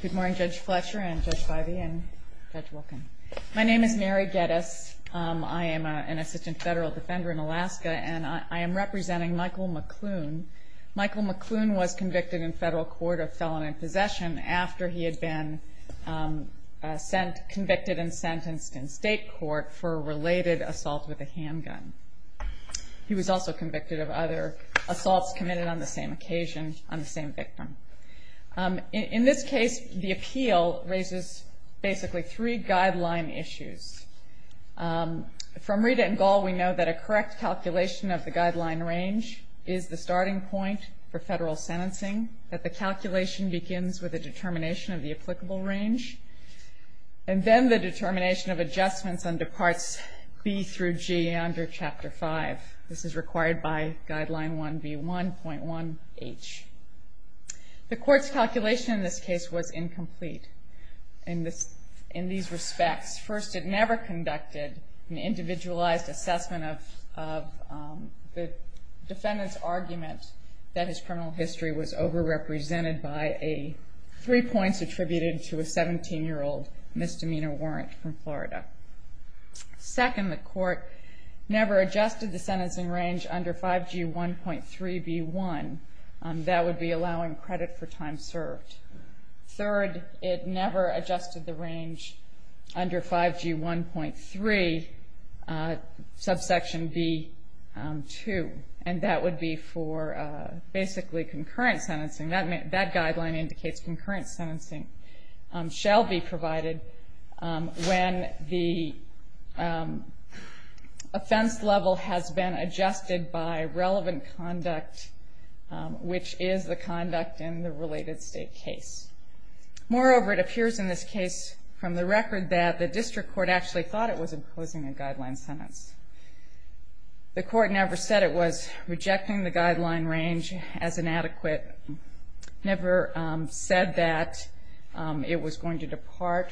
Good morning Judge Fletcher and Judge Bivey and Judge Wilkin. My name is Mary Geddes. I am an assistant federal defender in Alaska and I am representing Michael McLoone. Michael McLoone was convicted in federal court of felon in possession after he had been convicted and sentenced in state court for related assault with a handgun. He was also convicted of other assaults committed on the same occasion on the same victim. In this case the appeal raises basically three guideline issues. From Rita and Gall we know that a correct calculation of the guideline range is the starting point for federal sentencing. That the calculation begins with a determination of the applicable range and then the determination of adjustments under parts B through G under chapter 5. This is required by guideline 1B1.1H. The court's calculation in this case was incomplete. In these respects, first it never conducted an individualized assessment of the defendant's argument that his criminal history was overrepresented by three points attributed to a 17-year-old misdemeanor warrant from Florida. Second, the court never adjusted the sentencing range under 5G1.3B1. That would be allowing credit for time served. Third, it never adjusted the range under 5G1.3 subsection B2 and that would be for basically concurrent sentencing. That guideline indicates concurrent sentencing shall be provided when the offense level has been adjusted by relevant conduct, which is the conduct in the related state case. Moreover, it appears in this case from the record that the district court actually thought it was imposing a guideline sentence. The court never said it was rejecting the guideline range as inadequate, never said that it was going to depart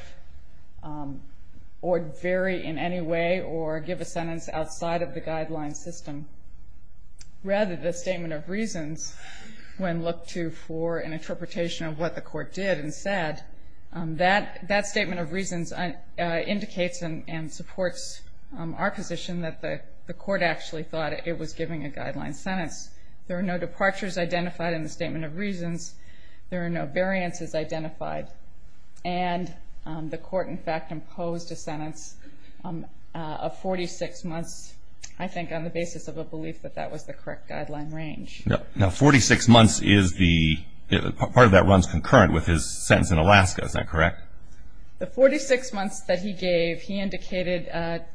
or vary in any way or give a sentence outside of the guideline system. Rather, the statement of reasons, when looked to for an interpretation of what the court did and said, that statement of reasons indicates and supports our position that the court actually thought it was giving a guideline sentence. There are no departures identified in the statement of reasons. There are no variances identified. And the court, in fact, imposed a sentence of 46 months, I think, on the basis of a belief that that was the correct guideline range. Now, 46 months is the, part of that runs concurrent with his sentence in Alaska, is that correct? The 46 months that he gave, he indicated a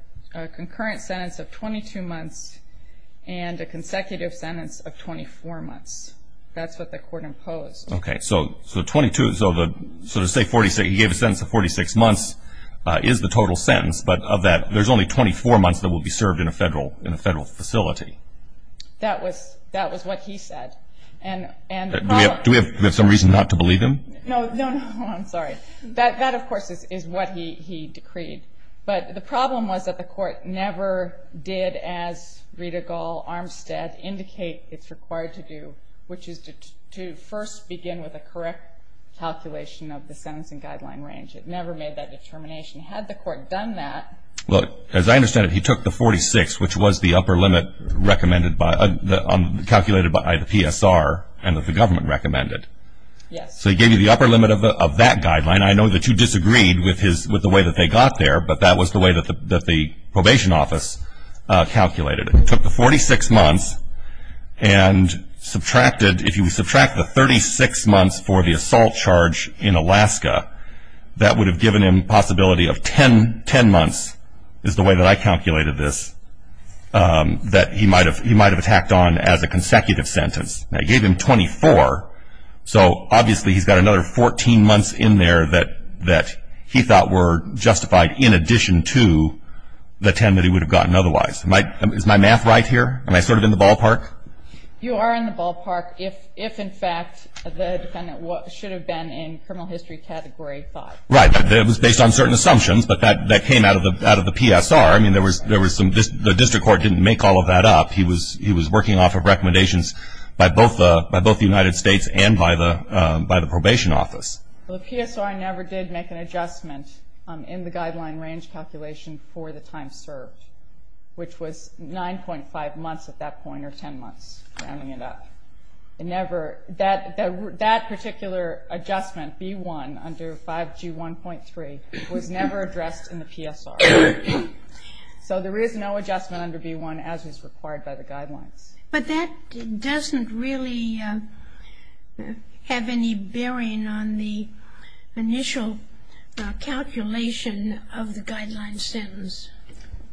concurrent sentence of 22 months and a consecutive sentence of 24 months. That's what the court imposed. Okay, so 22, so to say he gave a sentence of 46 months is the total sentence, but of that, there's only 24 months that will be served in a federal facility. That was what he said. Do we have some reason not to believe him? No, no, no, I'm sorry. That, of course, is what he decreed. But the problem was that the court never did, as Rita Gall, Armstead, indicate it's required to do, which is to first begin with a correct calculation of the sentencing guideline range. It never made that determination. Had the court done that. Look, as I understand it, he took the 46, which was the upper limit recommended by, calculated by the PSR and that the government recommended. Yes. So he gave you the upper limit of that guideline. I know that you disagreed with the way that they got there, but that was the way that the probation office calculated it. It took the 46 months and subtracted, if you subtract the 36 months for the assault charge in Alaska, that would have given him a possibility of 10 months, is the way that I calculated this, that he might have attacked on as a consecutive sentence. I gave him 24, so obviously he's got another 14 months in there that he thought were justified in addition to the 10 that he would have gotten otherwise. Is my math right here? Am I sort of in the ballpark? You are in the ballpark if, in fact, the defendant should have been in criminal history category 5. Right. It was based on certain assumptions, but that came out of the PSR. I mean, there was some, the district court didn't make all of that up. He was working off of recommendations by both the United States and by the probation office. The PSR never did make an adjustment in the guideline range calculation for the time served, which was 9.5 months at that point or 10 months, rounding it up. It never, that particular adjustment, B1 under 5G1.3, was never addressed in the PSR. So there is no adjustment under B1 as is required by the guidelines. But that doesn't really have any bearing on the initial calculation of the guideline sentence.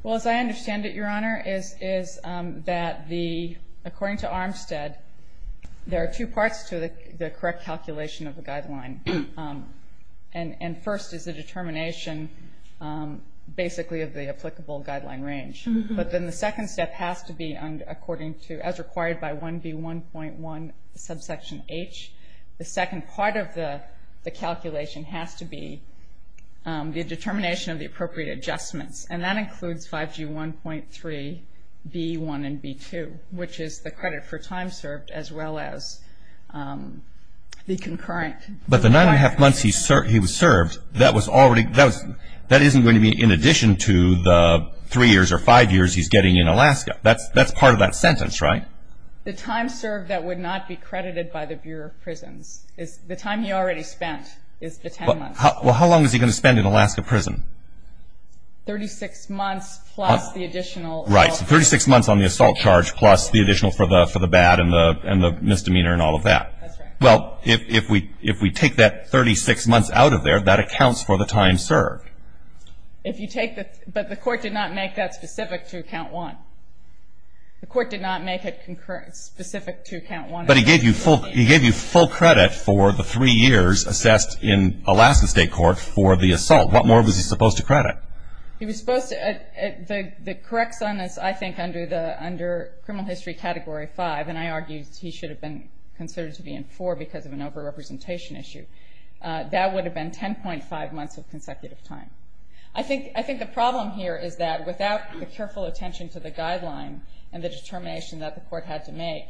Well, as I understand it, Your Honor, is that the, according to Armstead, there are two parts to the correct calculation of the guideline. And first is the determination, basically, of the applicable guideline range. But then the second step has to be, according to, as required by 1B1.1 subsection H, the second part of the calculation has to be the determination of the appropriate adjustments. And that includes 5G1.3, B1, and B2, which is the credit for time served as well as the concurrent. But the 9.5 months he was served, that was already, that isn't going to be in addition to the 3 years or 5 years he's getting in Alaska. That's part of that sentence, right? The time served that would not be credited by the Bureau of Prisons. The time he already spent is the 10 months. Well, how long is he going to spend in Alaska prison? 36 months plus the additional. Right, so 36 months on the assault charge plus the additional for the bad and the misdemeanor and all of that. That's right. Well, if we take that 36 months out of there, that accounts for the time served. If you take the, but the court did not make that specific to account 1. The court did not make it specific to account 1. But he gave you full credit for the 3 years assessed in Alaska State Court for the assault. What more was he supposed to credit? He was supposed to, the correct sentence, I think, under criminal history category 5, and I argue he should have been considered to be in 4 because of an over-representation issue. That would have been 10.5 months of consecutive time. I think the problem here is that without the careful attention to the guideline and the determination that the court had to make,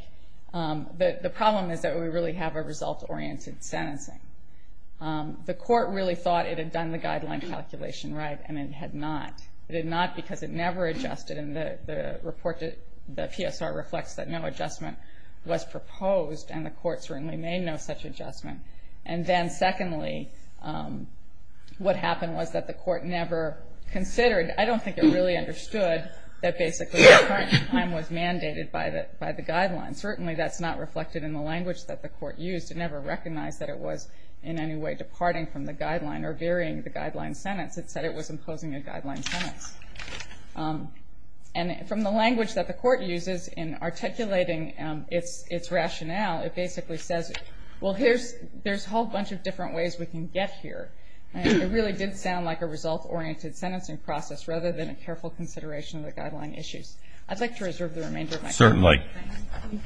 the problem is that we really have a result-oriented sentencing. The court really thought it had done the guideline calculation right, and it had not. It had not because it never adjusted in the report. The PSR reflects that no adjustment was proposed, and the court certainly made no such adjustment. And then secondly, what happened was that the court never considered, I don't think it really understood that basically the current time was mandated by the guideline. Certainly that's not reflected in the language that the court used. It never recognized that it was in any way departing from the guideline or varying the guideline sentence. It said it was imposing a guideline sentence. And from the language that the court uses in articulating its rationale, it basically says, well, there's a whole bunch of different ways we can get here. It really did sound like a result-oriented sentencing process rather than a careful consideration of the guideline issues. I'd like to reserve the remainder of my time. Thank you, Mike.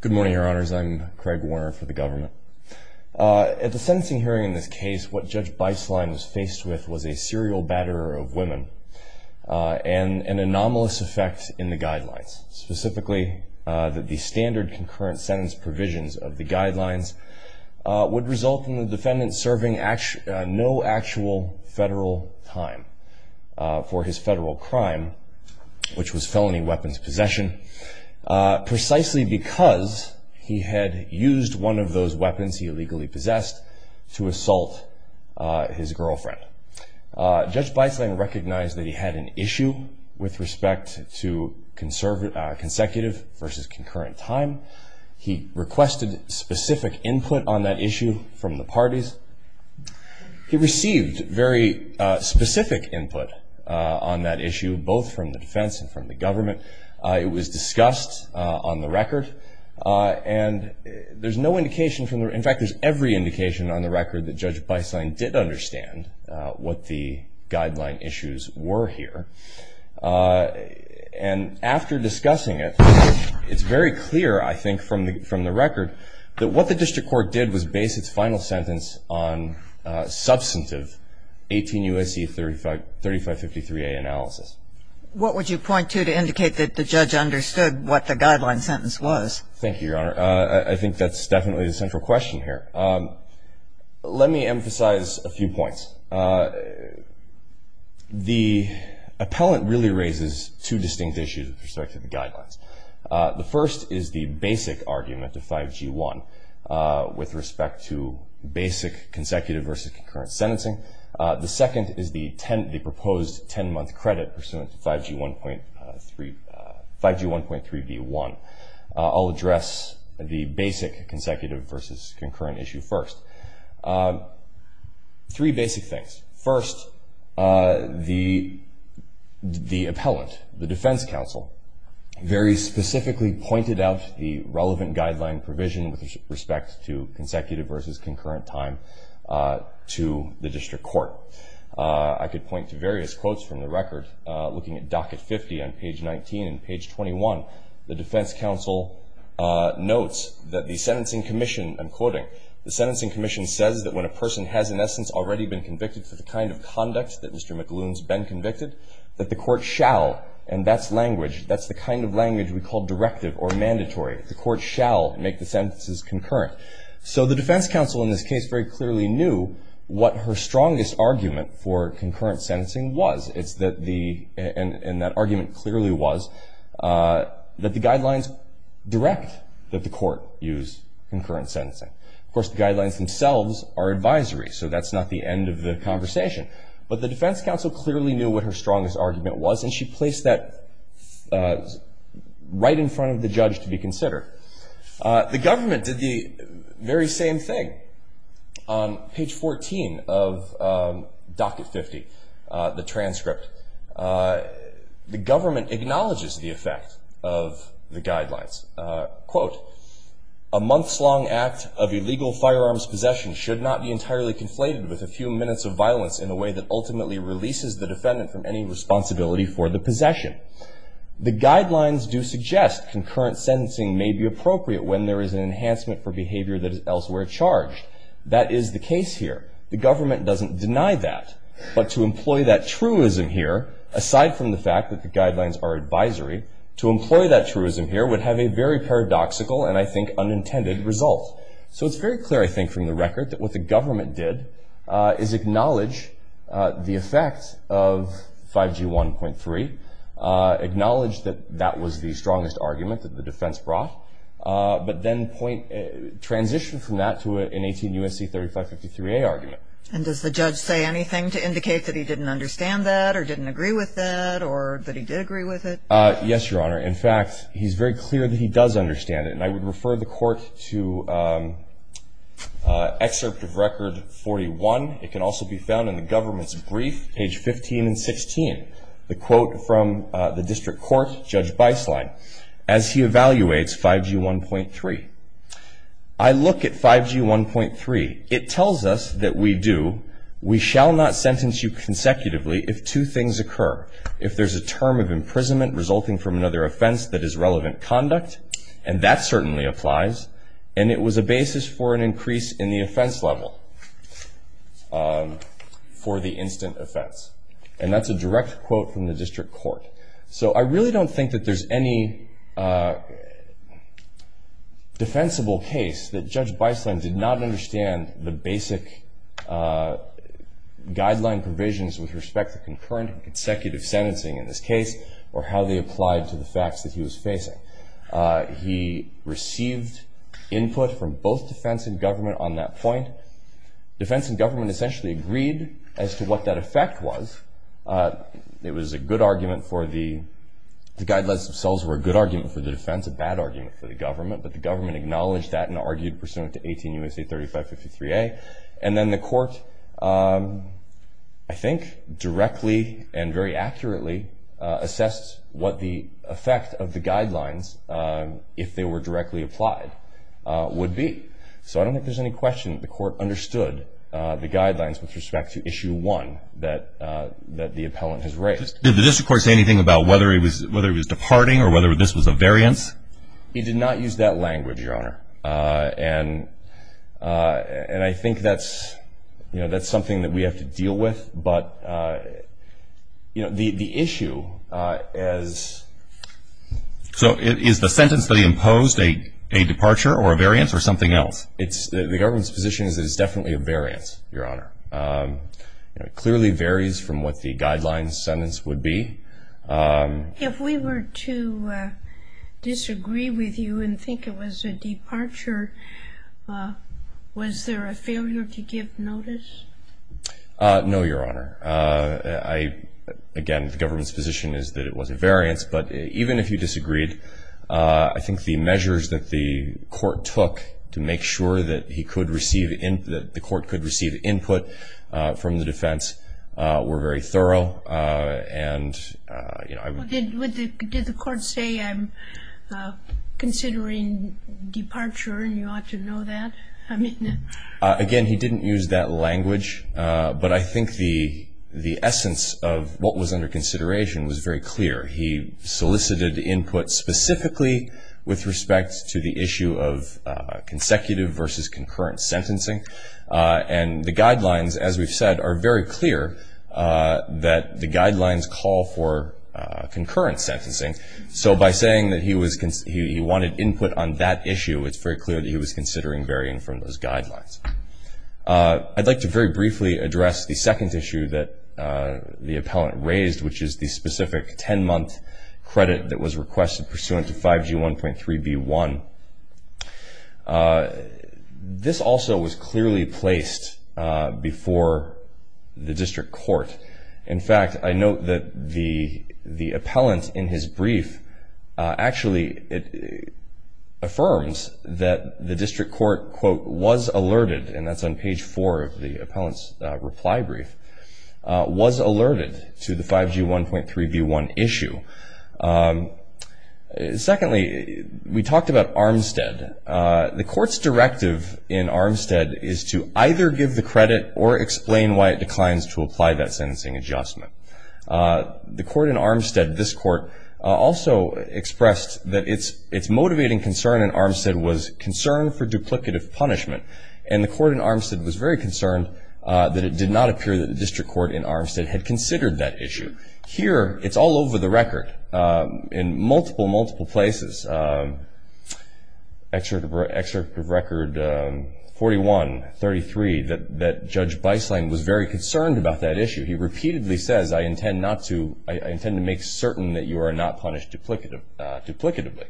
Good morning, Your Honors. I'm Craig Warner for the government. At the sentencing hearing in this case, what Judge Beislein was faced with was a serial batterer of women and an anomalous effect in the guidelines, specifically that the standard concurrent sentence provisions of the guidelines would result in the defendant serving no actual federal time for his federal crime, which was felony weapons possession, precisely because he had used one of those weapons he illegally possessed to assault his girlfriend. Judge Beislein recognized that he had an issue with respect to consecutive versus concurrent time. He requested specific input on that issue from the parties. He received very specific input on that issue, both from the defense and from the government. It was discussed on the record. And there's no indication from the record, in fact, there's every indication on the record that Judge Beislein did understand what the guideline issues were here. And after discussing it, it's very clear, I think, from the record, that what the district court did was base its final sentence on substantive 18 U.S.C. 3553A analysis. What would you point to to indicate that the judge understood what the guideline sentence was? Thank you, Your Honor. I think that's definitely the central question here. Let me emphasize a few points. The appellant really raises two distinct issues with respect to the guidelines. The first is the basic argument of 5G1 with respect to basic consecutive versus concurrent sentencing. The second is the proposed 10-month credit pursuant to 5G1.3b1. I'll address the basic consecutive versus concurrent issue first. Three basic things. First, the appellant, the defense counsel, very specifically pointed out the relevant guideline provision with respect to consecutive versus concurrent time to the district court. I could point to various quotes from the record. Looking at docket 50 on page 19 and page 21, the defense counsel notes that the sentencing commission, I'm quoting, the sentencing commission says that when a person has, in essence, already been convicted for the kind of conduct that Mr. McLuhan's been convicted, that the court shall, and that's language, that's the kind of language we call directive or mandatory, the court shall make the sentences concurrent. So the defense counsel in this case very clearly knew what her strongest argument for concurrent sentencing was. It's that the, and that argument clearly was that the guidelines direct that the court use concurrent sentencing. Of course, the guidelines themselves are advisory, so that's not the end of the conversation. But the defense counsel clearly knew what her strongest argument was, and she placed that right in front of the judge to be considered. The government did the very same thing. On page 14 of docket 50, the transcript, the government acknowledges the effect of the guidelines. Quote, a month's long act of illegal firearms possession should not be entirely conflated with a few minutes of violence in a way that ultimately releases the defendant from any responsibility for the possession. The guidelines do suggest concurrent sentencing may be appropriate when there is an enhancement for behavior that is elsewhere charged. That is the case here. The government doesn't deny that. But to employ that truism here, aside from the fact that the guidelines are advisory, to employ that truism here would have a very paradoxical and, I think, unintended result. So it's very clear, I think, from the record, that what the government did is acknowledge the effect of 5G 1.3, acknowledge that that was the strongest argument that the defense brought, but then transition from that to an 18 U.S.C. 3553A argument. And does the judge say anything to indicate that he didn't understand that or didn't agree with that or that he did agree with it? Yes, Your Honor. In fact, he's very clear that he does understand it. And I would refer the court to Excerpt of Record 41. It can also be found in the government's brief, page 15 and 16, the quote from the district court, Judge Beislein, as he evaluates 5G 1.3. I look at 5G 1.3. It tells us that we do. We shall not sentence you consecutively if two things occur. If there's a term of imprisonment resulting from another offense that is relevant conduct, and that certainly applies, and it was a basis for an increase in the offense level for the instant offense. And that's a direct quote from the district court. So I really don't think that there's any defensible case that Judge Beislein did not understand the basic guideline provisions with respect to concurrent and consecutive sentencing in this case or how they applied to the facts that he was facing. He received input from both defense and government on that point. Defense and government essentially agreed as to what that effect was. It was a good argument for the guidelines themselves were a good argument for the defense, a bad argument for the government, but the government acknowledged that and argued pursuant to 18 U.S.A. 3553A. And then the court, I think, directly and very accurately assessed what the effect of the guidelines, if they were directly applied, would be. So I don't think there's any question the court understood the guidelines with respect to Issue 1 that the appellant has raised. Did the district court say anything about whether it was departing or whether this was a variance? And I think that's something that we have to deal with. But the issue is the sentence that he imposed, a departure or a variance or something else? The government's position is that it's definitely a variance, Your Honor. It clearly varies from what the guidelines sentence would be. If we were to disagree with you and think it was a departure, was there a failure to give notice? No, Your Honor. Again, the government's position is that it was a variance, but even if you disagreed, I think the measures that the court took to make sure that the court could receive input from the defense were very thorough Did the court say, I'm considering departure and you ought to know that? Again, he didn't use that language, but I think the essence of what was under consideration was very clear. He solicited input specifically with respect to the issue of consecutive versus concurrent sentencing. And the guidelines, as we've said, are very clear that the guidelines call for concurrent sentencing. So by saying that he wanted input on that issue, it's very clear that he was considering varying from those guidelines. I'd like to very briefly address the second issue that the appellant raised, which is the specific 10-month credit that was requested pursuant to 5G1.3b1. This also was clearly placed before the district court. In fact, I note that the appellant in his brief actually affirms that the district court, quote, was alerted, and that's on page four of the appellant's reply brief, was alerted to the 5G1.3b1 issue. Secondly, we talked about Armstead. The court's directive in Armstead is to either give the credit or explain why it declines to apply that sentencing adjustment. The court in Armstead, this court, also expressed that its motivating concern in Armstead was concern for duplicative punishment. And the court in Armstead was very concerned that it did not appear that the district court in Armstead had considered that issue. Here, it's all over the record in multiple, multiple places. Excerpt of record 41-33 that Judge Beisling was very concerned about that issue. He repeatedly says, I intend to make certain that you are not punished duplicatively.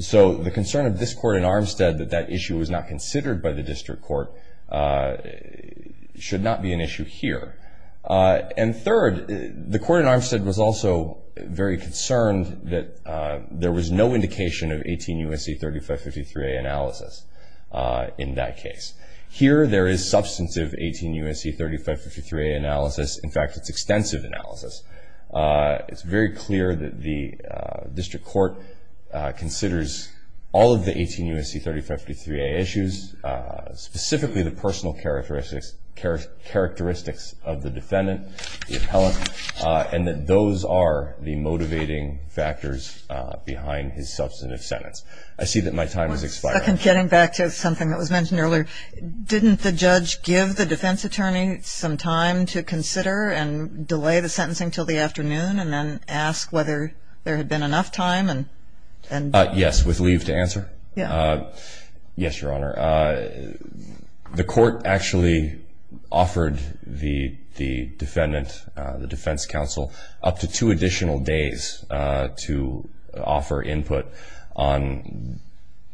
So the concern of this court in Armstead that that issue was not considered by the district court should not be an issue here. And third, the court in Armstead was also very concerned that there was no indication of 18 U.S.C. 3553A analysis in that case. Here, there is substantive 18 U.S.C. 3553A analysis. In fact, it's extensive analysis. It's very clear that the district court considers all of the 18 U.S.C. 3553A issues, specifically the personal characteristics of the defendant, the appellant, and that those are the motivating factors behind his substantive sentence. I see that my time has expired. Getting back to something that was mentioned earlier, didn't the judge give the defense attorney some time to consider and delay the sentencing until the afternoon and then ask whether there had been enough time? Yes, with leave to answer. Yes, Your Honor. The court actually offered the defendant, the defense counsel, up to two additional days to offer input on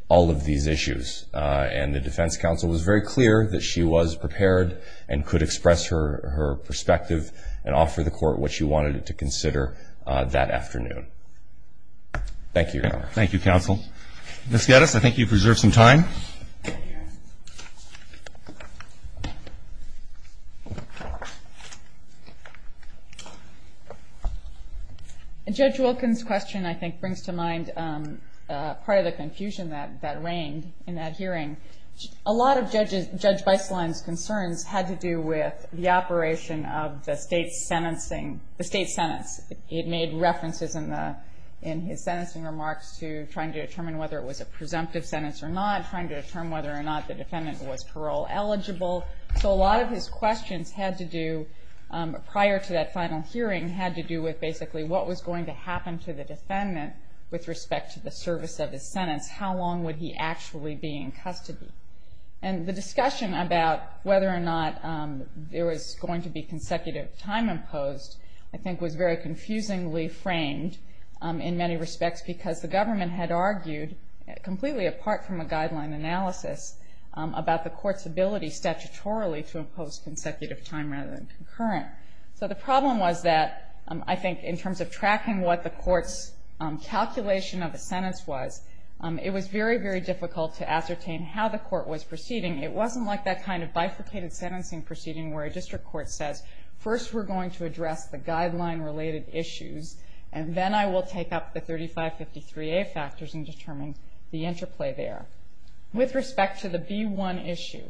all of these issues. And the defense counsel was very clear that she was prepared and could express her perspective and offer the court what she wanted to consider that afternoon. Thank you, Your Honor. Thank you, counsel. Ms. Geddes, I think you've reserved some time. Judge Wilkins' question, I think, brings to mind part of the confusion that reigned in that hearing. A lot of Judge Beistlein's concerns had to do with the operation of the state's sentencing, the state's sentence. It made references in his sentencing remarks to trying to determine whether it was a presumptive sentence or not, trying to determine whether or not the defendant was parole eligible. So a lot of his questions had to do, prior to that final hearing, had to do with basically what was going to happen to the defendant with respect to the service of his sentence. How long would he actually be in custody? And the discussion about whether or not there was going to be consecutive time imposed, I think, was very confusingly framed in many respects because the government had argued, completely apart from a guideline analysis, about the court's ability statutorily to impose consecutive time rather than concurrent. So the problem was that, I think, in terms of tracking what the court's calculation of the sentence was, it was very, very difficult to ascertain how the court was proceeding. It wasn't like that kind of bifurcated sentencing proceeding where a district court says, first we're going to address the guideline-related issues, and then I will take up the 3553A factors and determine the interplay there. With respect to the B1 issue,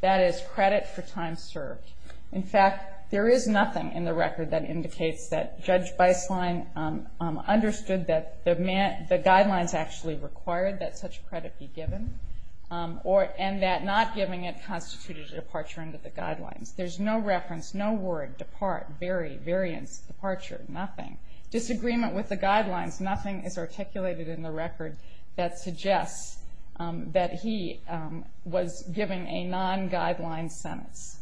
that is credit for time served. In fact, there is nothing in the record that indicates that Judge Beislein understood that the guidelines actually required that such credit be given and that not giving it constituted a departure into the guidelines. There's no reference, no word, depart, bury, variance, departure, nothing. Disagreement with the guidelines, nothing is articulated in the record that suggests that he was given a non-guideline sentence.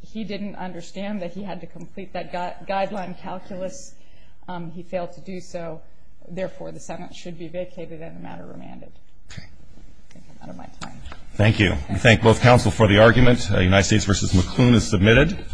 He didn't understand that he had to complete that guideline calculus. He failed to do so. Therefore, the sentence should be vacated and the matter remanded. I think I'm out of my time. Thank you. We thank both counsel for the argument. United States v. McClune is submitted.